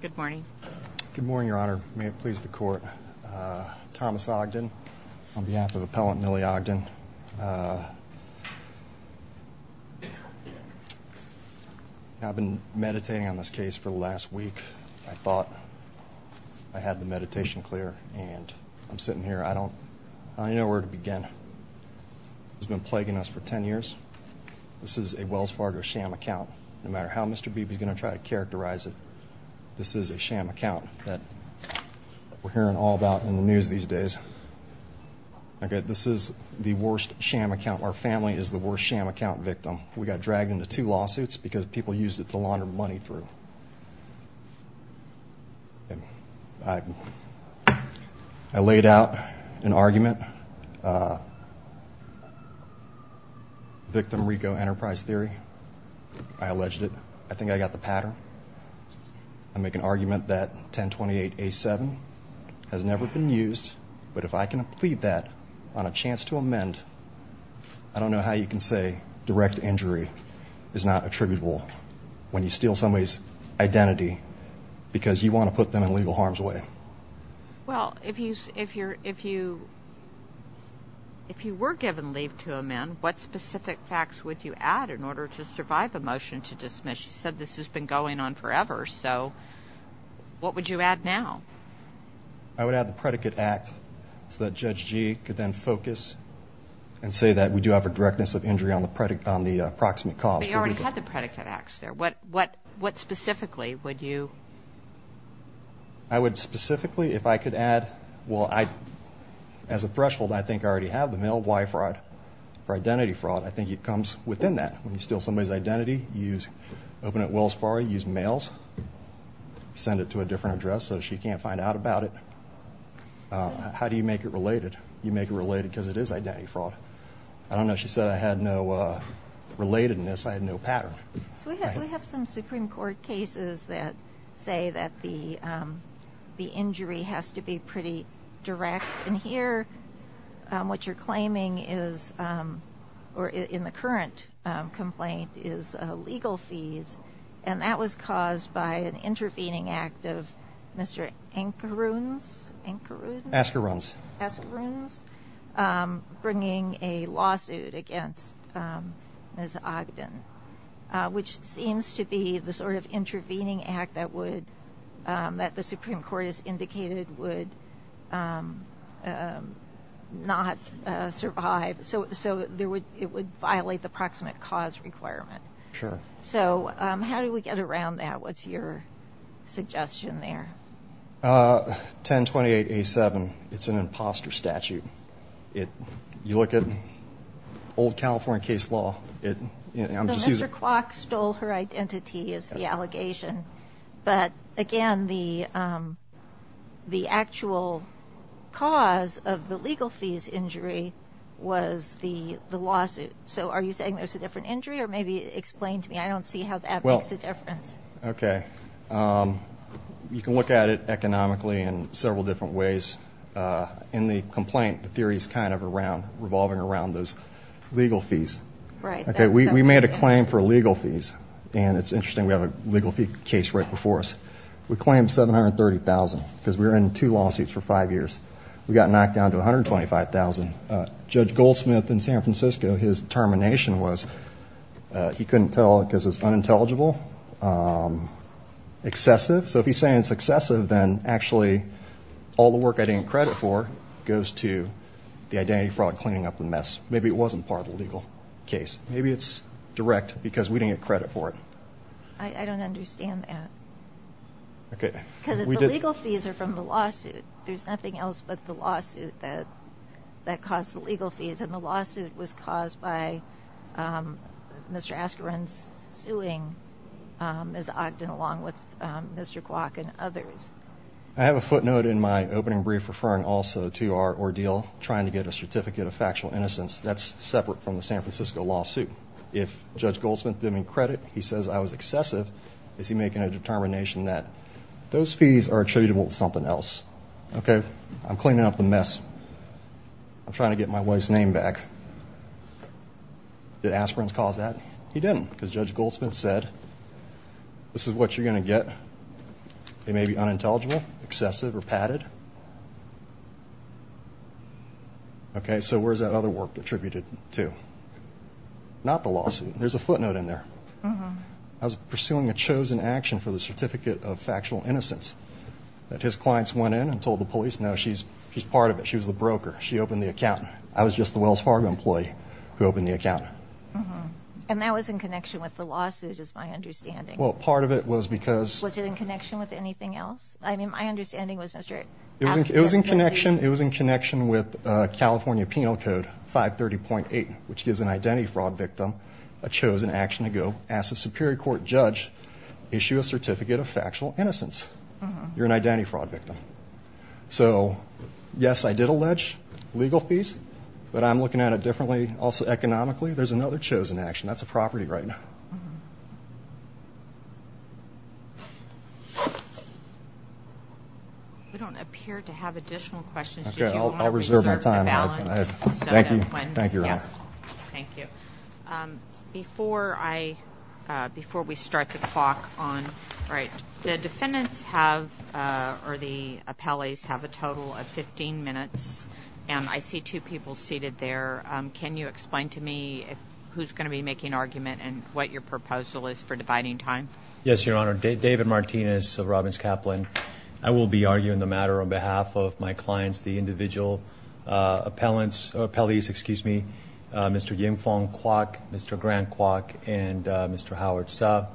Good morning. Good morning, Your Honor. May it please the Court. Thomas Ogden on behalf of Appellant Millie Ogden. I've been meditating on this case for the last week. I thought I had the meditation clear and I'm sitting here. I don't I know where to begin. It's been plaguing us for 10 years. This is a Wells Fargo sham account. No matter how Mr. Beebe is going to try to characterize it, this is a sham account that we're hearing all about in the news these days. Okay, this is the worst sham account. Our family is the worst sham account victim. We got dragged into two lawsuits because people used it to launder money through. I laid out an allegation. I think I got the pattern. I make an argument that 1028 A7 has never been used, but if I can plead that on a chance to amend, I don't know how you can say direct injury is not attributable when you steal somebody's identity because you want to put them in legal harm's way. Well, if you were given leave to amend, what specific facts would you add in order to survive a motion to dismiss? You said this has been going on forever, so what would you add now? I would add the predicate act so that Judge Gee could then focus and say that we do have a directness of injury on the approximate cause. But you already had the predicate acts there. What specifically would you... I would specifically, if I could add, well, as a threshold, I think I already have the male Y fraud or identity fraud. I think it comes within that when you steal somebody's identity, you open it well as far, you use mails, send it to a different address so she can't find out about it. How do you make it related? You make it related because it is identity fraud. I don't know. She said I had no relatedness. I had no pattern. We have some Supreme Court cases that say that the injury has to be pretty direct, and here what you're claiming is, or in the current complaint, is legal fees, and that was caused by an intervening act of Mr. Ankarun's? Ankarun? Askarun's. Askarun's bringing a lawsuit against Ms. Ogden, which seems to be the sort of intervening act that would, that the Supreme Court has approximate cause requirement. Sure. So how do we get around that? What's your suggestion there? 1028A7, it's an imposter statute. You look at old California case law... Mr. Kwok stole her identity is the allegation, but again the actual cause of the legal fees injury was the the lawsuit. So are you saying there's a different injury, or maybe explain to me? I don't see how that makes a difference. Okay, you can look at it economically in several different ways. In the complaint, the theory is kind of around, revolving around those legal fees. Okay, we made a claim for legal fees, and it's interesting we have a legal fee case right before us. We claimed $730,000 because we were in two lawsuits for five years. We got knocked down to $125,000. Judge Goldsmith in San Francisco, his determination was he couldn't tell because it was unintelligible, excessive. So if he's saying it's excessive, then actually all the work I didn't credit for goes to the identity fraud cleaning up the mess. Maybe it wasn't part of the legal case. Maybe it's direct because we didn't get credit for it. I don't understand that. Okay. Because the legal fees are from the lawsuit. There's nothing else but the lawsuit that that caused the legal fees, and the lawsuit was caused by Mr. Askren's suing Ms. Ogden along with Mr. Kwok and others. I have a footnote in my opening brief referring also to our ordeal trying to get a certificate of factual innocence. That's separate from the San Francisco lawsuit. If Judge Goldsmith didn't credit, he says I was excessive, is he making a determination that those fees are attributable to something else? Okay. I'm cleaning up the mess. I'm trying to get my wife's name back. Did Askren's cause that? He didn't because Judge Goldsmith said this is what you're gonna get. It may be unintelligible, excessive, or padded. Okay. So where's that other work attributed to? Not the lawsuit. There's a footnote in there. I was pursuing a chosen action for the certificate of factual innocence. That his clients went in and told the police, no she's part of it. She was the broker. She opened the account. I was just the Wells Fargo employee who opened the account. And that was in connection with the lawsuit is my understanding. Well part of it was because... Was it in connection with anything else? I mean my understanding was Mr. Askren... It was in connection. It was in connection with California Penal Code 530.8, which gives an identity fraud victim a chosen action to go. Ask a Superior Court judge, issue a certificate of factual innocence. You're an identity fraud victim. So yes, I did allege legal fees, but I'm looking at it differently. Also economically, there's another chosen action. That's a property right now. We don't appear to have additional questions. Okay, I'll reserve my time. Thank you. Thank you, Your Honor. Before I, before we start the clock on, right, the defendants have, or the appellees, have a total of 15 minutes. And I see two people seated there. Can you explain to me who's going to be making argument and what your proposal is for dividing time? Yes, Your Honor. David Martinez of Robbins Kaplan. I will be arguing the matter on behalf of my clients, the individual appellants, appellees, excuse me, Mr. Yim Fong Kwok, Mr. Grant Kwok, and Mr. Howard Suh.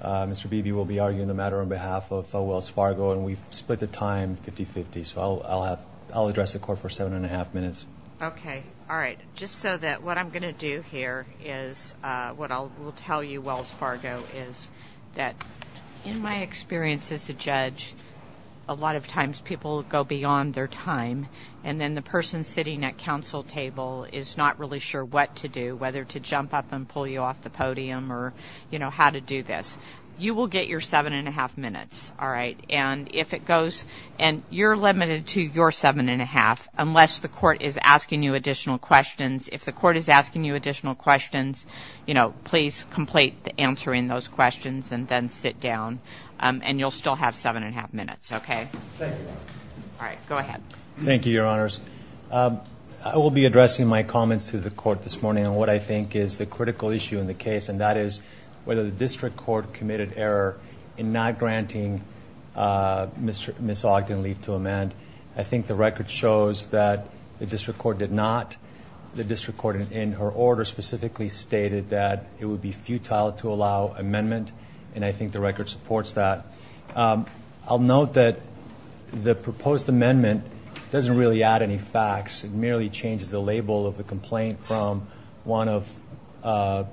Mr. Beebe will be arguing the matter on behalf of Wells Fargo. And we've split the time 50-50. So I'll have, I'll address the court for seven and a half minutes. Okay. All right. Just so that what I'm going to do here is what I will tell you, Wells Fargo, is that in my experience as a judge, a lot of times people go beyond their time. And then the person sitting at counsel table is not really sure what to do, whether to jump up and pull you off the podium or, you know, how to do this. You will get your seven and a half minutes, all right? And if it goes, and you're limited to your seven and a half, unless the court is asking you additional questions. If the court is asking you additional questions, you know, please complete answering those questions and then sit down. And you'll still have seven and a half minutes, okay? Thank you. All right. Go ahead. Thank you, Your Honors. I will be addressing my comments to the court this morning on what I think is the critical issue in the case, and that is whether the district court committed error in not granting Ms. Ogden leave to amend. I think the record shows that the district court did not. The district court, in her order specifically, stated that it would be futile to allow amendment. And I think the record supports that. I'll note that the proposed amendment doesn't really add any facts. It merely changes the label of the complaint from one of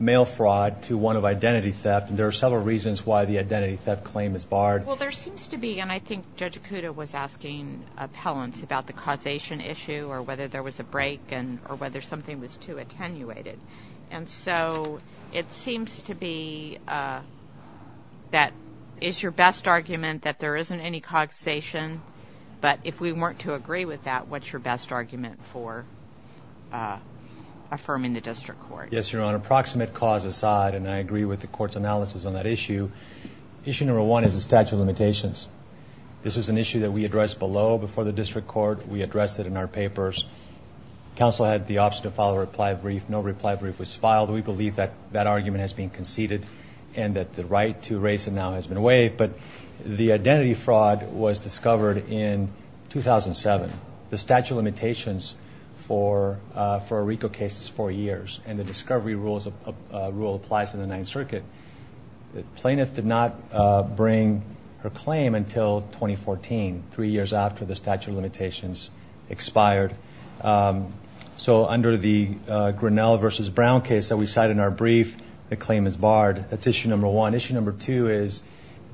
mail fraud to one of identity theft. And there are several reasons why the identity theft claim is barred. Well, there seems to be, and I think Judge Acuda was asking appellants about the causation issue or whether there was a break and or whether something was too attenuated. And so it seems to be that it's your best argument that there isn't any causation. But if we weren't to agree with that, what's your Yes, Your Honor. Approximate cause aside, and I agree with the court's analysis on that issue, issue number one is the statute of limitations. This is an issue that we addressed below before the district court. We addressed it in our papers. Counsel had the option to file a reply brief. No reply brief was filed. We believe that that argument has been conceded and that the right to erase it now has been waived. But the identity fraud was discovered in 2007. The statute of limitations for a RICO case is four years and the discovery rule applies to the Ninth Circuit. The plaintiff did not bring her claim until 2014, three years after the statute of limitations expired. So under the Grinnell versus Brown case that we cite in our brief, the claim is barred. That's issue number one. Issue number two is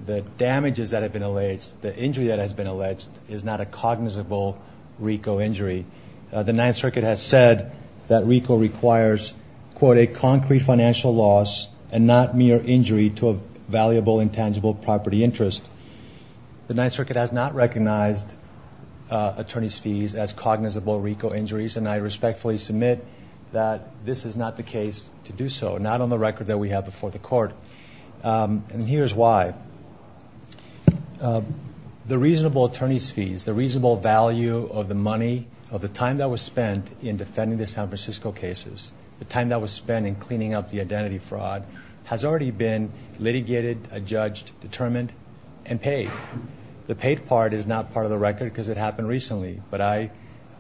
the damages that have been alleged, the injury that has alleged is not a cognizable RICO injury. The Ninth Circuit has said that RICO requires, quote, a concrete financial loss and not mere injury to a valuable intangible property interest. The Ninth Circuit has not recognized attorney's fees as cognizable RICO injuries and I respectfully submit that this is not the case to do so, not on the record that we have before the court. And here's why. The reasonable attorney's fees, the reasonable value of the money, of the time that was spent in defending the San Francisco cases, the time that was spent in cleaning up the identity fraud has already been litigated, adjudged, determined and paid. The paid part is not part of the record because it happened recently but I'm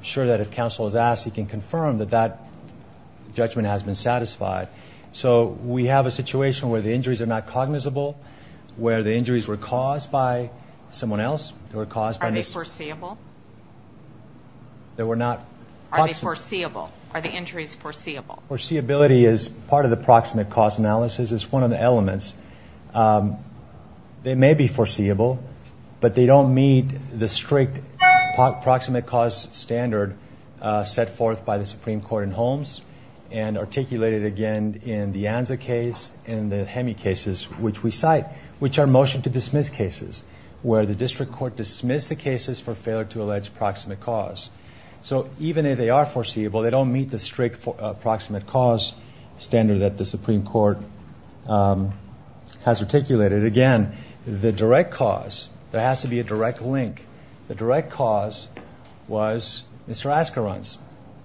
sure that if counsel is asked he can confirm that that judgment has been satisfied. So we have a situation where the injuries are not foreseeable. Are they foreseeable? Are the injuries foreseeable? Foreseeability is part of the proximate cause analysis. It's one of the elements. They may be foreseeable but they don't meet the strict proximate cause standard set forth by the Supreme Court in Holmes and articulated again in the Anza case and the Hemi cases which we cite, which are motion to dismiss cases where the cases for failure to allege proximate cause. So even if they are foreseeable they don't meet the strict proximate cause standard that the Supreme Court has articulated. Again, the direct cause, there has to be a direct link. The direct cause was Mr. Askarans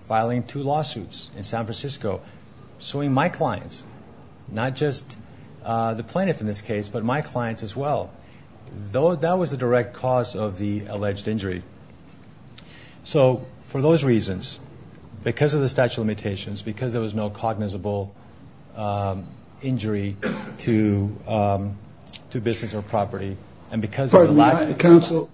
filing two lawsuits in San Francisco suing my clients, not just the plaintiff in this case but my clients as well. That was the direct cause of the alleged injury. So for those reasons, because of the statute of limitations, because there was no cognizable injury to business or property, and because of the lack of counsel,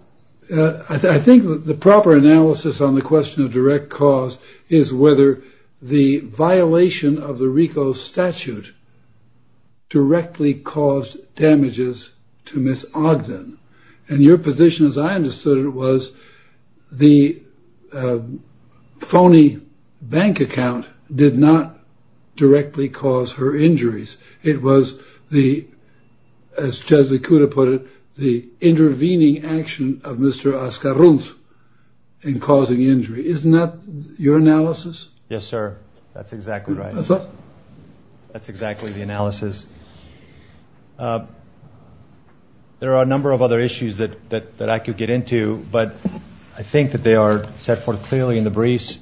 I think the proper analysis on the question of direct cause is whether the violation of the RICO statute directly caused damages to Ms. Ogden. And your position, as I understood it, was the phony bank account did not directly cause her injuries. It was the, as Chesley Kuda put it, the intervening action of Mr. Askarans in causing injury. Isn't that your analysis? Yes, sir. That's exactly right. That's exactly the analysis. There are a number of other issues that I could get into, but I think that they are set forth clearly in the briefs.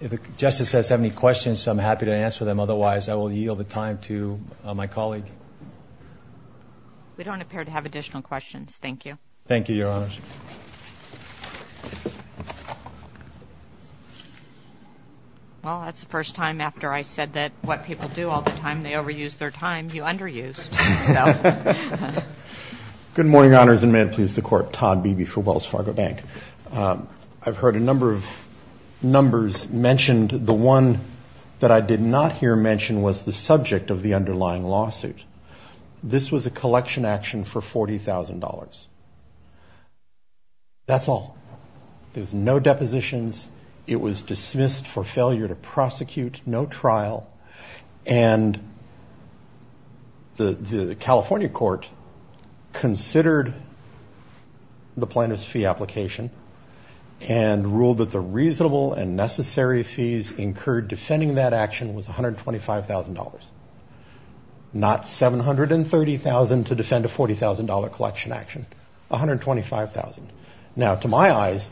If the Justice has any questions, I'm happy to answer them. Otherwise, I will yield the time to my colleague. We don't appear to have additional questions. Thank you. Thank you, Your Honors. Well, that's the first time after I said that what people do all the time, they overuse their time, you underused. Good morning, Your Honors, and may it please the Court. Todd Beebe for Wells Fargo Bank. I've heard a number of numbers mentioned. The one that I did not hear mentioned was the subject of the That's all. There's no depositions. It was dismissed for failure to prosecute, no trial, and the California court considered the plaintiff's fee application and ruled that the reasonable and necessary fees incurred defending that action was $125,000, not $730,000 to defend a $40,000 collection action. $125,000. Now, to my eyes,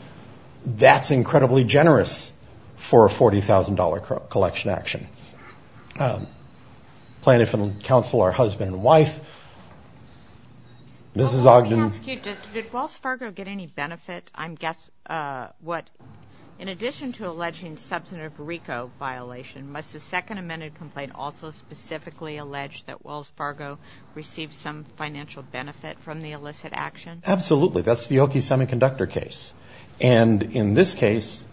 that's incredibly generous for a $40,000 collection action. Plaintiff and counsel are husband and wife. Mrs. Ogden. Let me ask you, did Wells Fargo get any benefit? I'm guessing, what, in addition to alleging substantive RICO violation, must the second amended complaint also specifically allege that Wells Fargo received some financial benefit from the illicit action? Absolutely. That's the Oki Semiconductor case, and in this case,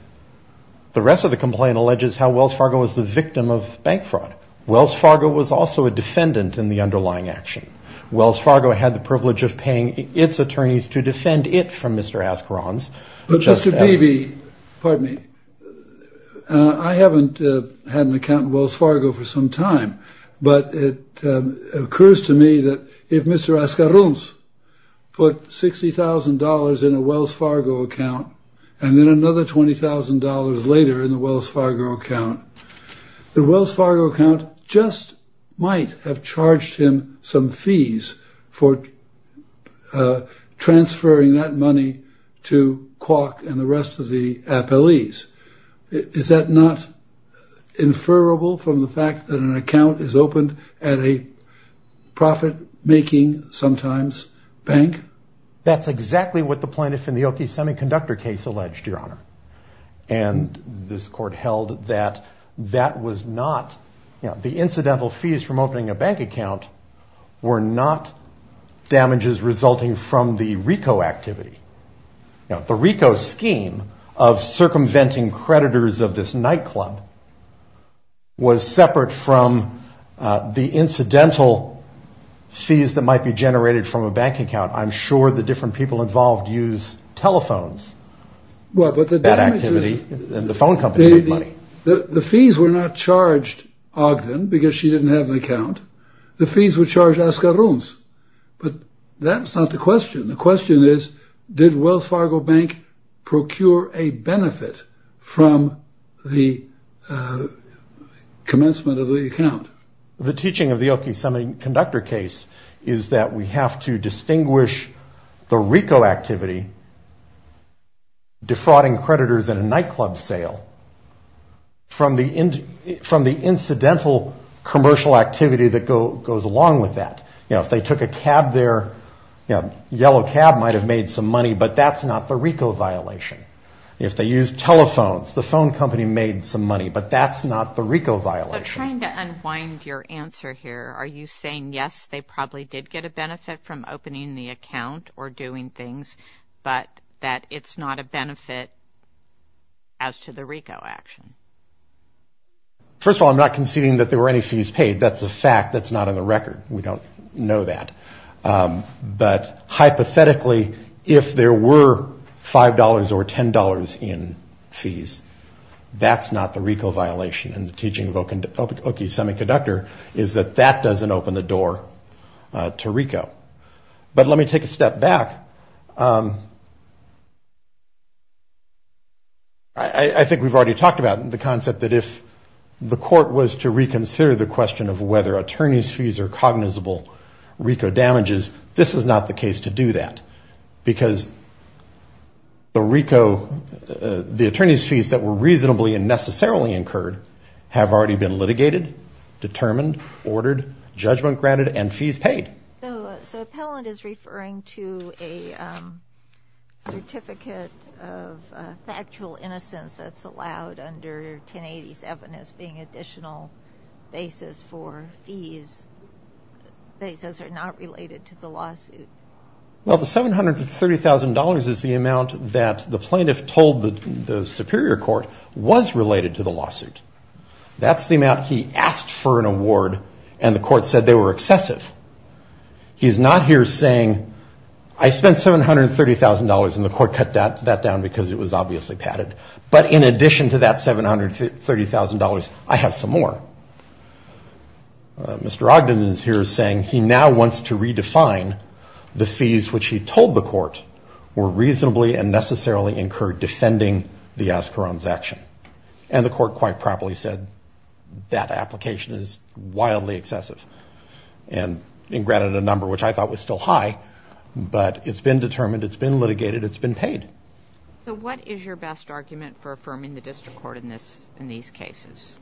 the rest of the complaint alleges how Wells Fargo was the victim of bank fraud. Wells Fargo was also a defendant in the underlying action. Wells Fargo had the privilege of paying its attorneys to defend it from Mr. Askarans. But, Mr. had an account in Wells Fargo for some time, but it occurs to me that if Mr. Askarans put $60,000 in a Wells Fargo account, and then another $20,000 later in the Wells Fargo account, the Wells Fargo account just might have charged him some fees for transferring that money to Kwok and the rest of the inferable from the fact that an account is opened at a profit-making, sometimes, bank? That's exactly what the plaintiff in the Oki Semiconductor case alleged, Your Honor, and this court held that that was not, you know, the incidental fees from opening a bank account were not damages resulting from the RICO activity. Now, the RICO scheme of circumventing creditors of this night club was separate from the incidental fees that might be generated from a bank account. I'm sure the different people involved use telephones. Well, but the bad activity, and the phone company, the fees were not charged Ogden, because she didn't have an account. The fees were charged Askarans, but that's not the commencement of the account. The teaching of the Oki Semiconductor case is that we have to distinguish the RICO activity, defrauding creditors in a nightclub sale, from the incidental commercial activity that goes along with that. You know, if they took a cab there, you know, yellow cab might have made some money, but that's not the RICO violation. If they used telephones, the phone company made some money, but that's not the RICO violation. So trying to unwind your answer here, are you saying, yes, they probably did get a benefit from opening the account or doing things, but that it's not a benefit as to the RICO action? First of all, I'm not conceding that there were any fees paid. That's a fact. That's not on the record. We don't know that. But hypothetically, if there were $5 or $10 in fees, that's not the RICO violation. And the teaching of Oki Semiconductor is that that doesn't open the door to RICO. But let me take a step back. I think we've already talked about the concept that if the court was to reconsider the question of whether attorney's fees are cognizable RICO damages, this is not the case to do that. Because the RICO, the attorney's fees that were reasonably and necessarily incurred have already been litigated, determined, ordered, judgment granted, and fees paid. So Appellant is referring to a certificate of factual innocence that's not related to the lawsuit. Well, the $730,000 is the amount that the plaintiff told the Superior Court was related to the lawsuit. That's the amount he asked for an award and the court said they were excessive. He's not here saying, I spent $730,000 and the court cut that down because it was obviously padded. But in addition to that $730,000, I have some more. Mr. Ogden is here saying he now wants to redefine the fees which he told the court were reasonably and necessarily incurred defending the Oscarone's action. And the court quite properly said that application is wildly excessive. And granted a number which I thought was still high, but it's been determined, it's been litigated, it's been paid. So what is your best argument for affirming the district court in these cases?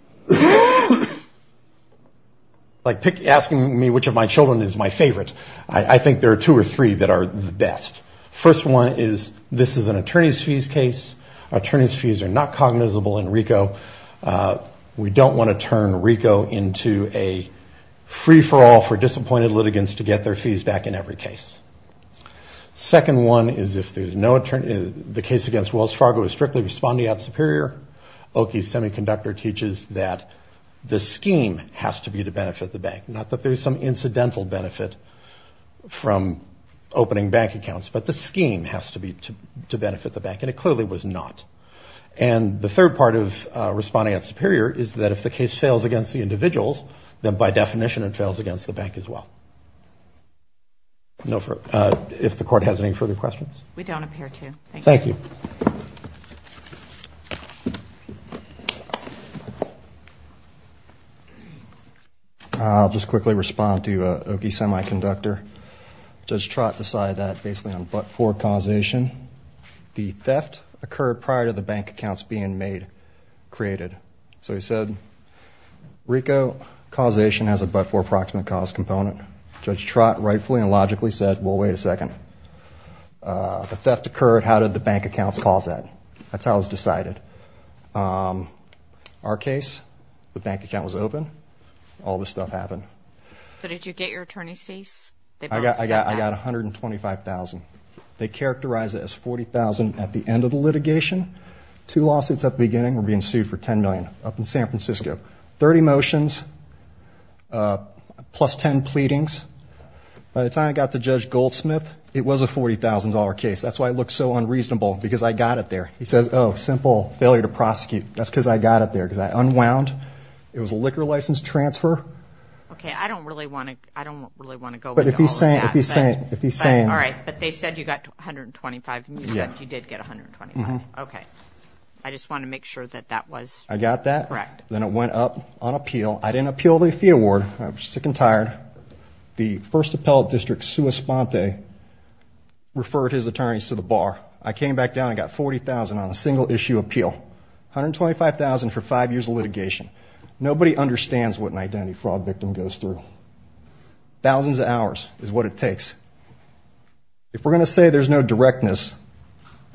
Like, ask me which of my children is my favorite. I think there are two or three that are the best. First one is this is an attorney's fees case. Attorney's fees are not cognizable in RICO. We don't want to turn RICO into a free-for-all for disappointed litigants to get their fees back in every case. Second one is if there's no attorney, the case against Wells Fargo is strictly responding out superior. Oki's Semiconductor teaches that the scheme has to be to benefit the bank. Not that there's some incidental benefit from opening bank accounts, but the scheme has to be to benefit the bank. And it clearly was not. And the third part of responding out superior is that if the case fails against the individuals, then by definition it fails against the bank as well. If the court has any further questions? We don't appear to. Thank you. I'll just quickly respond to Oki's Semiconductor. Judge Trott decided that basically on but-for causation, the theft occurred prior to the bank accounts being made, created. So he said RICO causation has a but-for approximate cause component. Judge Trott rightfully and logically said, well, wait a second. The theft occurred. How did the bank accounts cause that? That's how it was decided. Our case, the bank account was open. All this stuff happened. So did you get your attorney's fees? I got $125,000. They characterized it as $40,000 at the end of the litigation. Two lawsuits at the beginning were being sued for $10 million up in San Francisco. 30 motions plus 10 pleadings. By the time I got to Judge Goldsmith, it was a $40,000 case. That's why it looked so unreasonable because I got it there. He says, oh, simple failure to prosecute. That's because I got it there because I unwound. It was a liquor license transfer. Okay. I don't really want to go into all of that. But if he's saying. All right. But they said you got $125,000. You said you did get $125,000. Okay. I just want to make sure that that was correct. Then it went up on appeal. I didn't appeal the fee award. I was sick and tired. The first appellate district, Sue Esponte, referred his attorneys to the bar. I came back down and got $40,000 on a single issue appeal. $125,000 for five years of litigation. Nobody understands what an identity fraud victim goes through. Thousands of hours is what it takes. If we're going to say there's no directness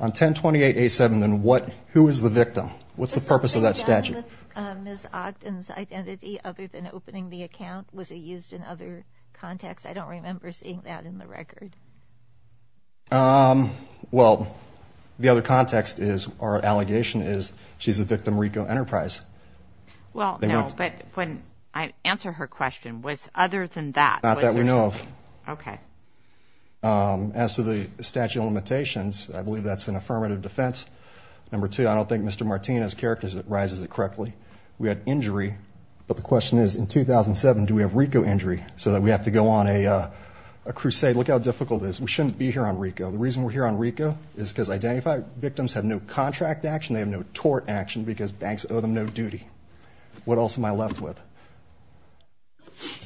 on 10-28-87, then who is the victim? What's the purpose of that statute? Ms. Ogden's identity, other than opening the account, was it used in other contexts? I don't remember seeing that in the record. Well, the other context is, or allegation is, she's a victim of Rico Enterprise. Well, no. But when I answer her question, was other than that. Not that we know of. Okay. As to the statute of limitations, I believe that's an affirmative defense. Number two, I don't think Mr. Martinez characterizes it correctly. We had injury, but the question is, in 2007, do we have Rico injury? So that we have to go on a crusade. Look how difficult it is. We shouldn't be here on Rico. The reason we're here on Rico is because identified victims have no contract action, they have no tort action, because banks owe them no duty. What else am I left with?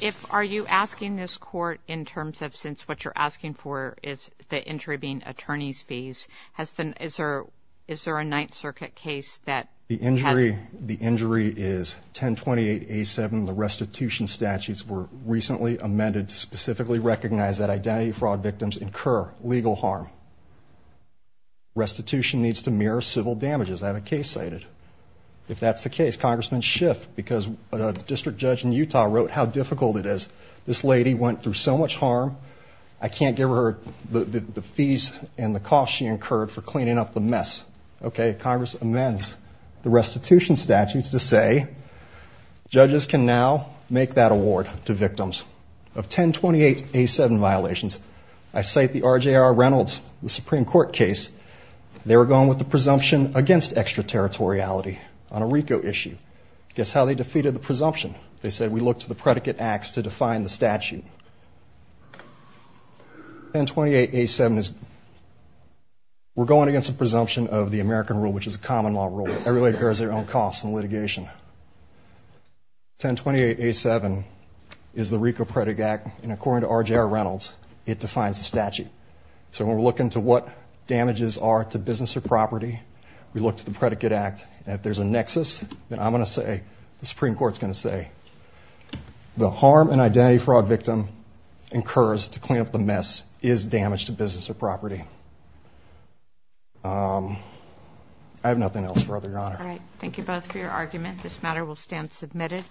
If, are you asking this court in terms of, since what you're asking for is the injury being attorney's fees, has the, is there a Ninth Circuit case that has? The injury, the injury is 1028A7. The restitution statutes were recently amended to specifically recognize that identity fraud victims incur legal harm. Restitution needs to mirror civil damages. I have a case cited. If that's the case, Congressman Schiff, because a district judge in Utah wrote how difficult it is. This lady went through so much harm, I can't give her the fees and the cost she incurred for cleaning up the mess. Okay, Congress amends the restitution statutes to say, judges can now make that award to victims of 1028A7 violations. I cite the RJR Reynolds, the Supreme Court case. They were going with the presumption against extraterritoriality on a Rico issue. Guess how they defeated the presumption? They said, we look to the predicate acts to define the statute. 1028A7 is, we're going against the presumption of the American rule, which is a common law rule. Everybody bears their own cost in litigation. 1028A7 is the Rico predicate act, and according to RJR Reynolds, it defines the statute. So when we look into what damages are to business or property, we look to the predicate act, and if there's a nexus, then I'm going to say, the harm and identity fraud victim incurs to clean up the mess is damage to business or property. I have nothing else, Your Honor. All right, thank you both for your argument. This matter will stand submitted.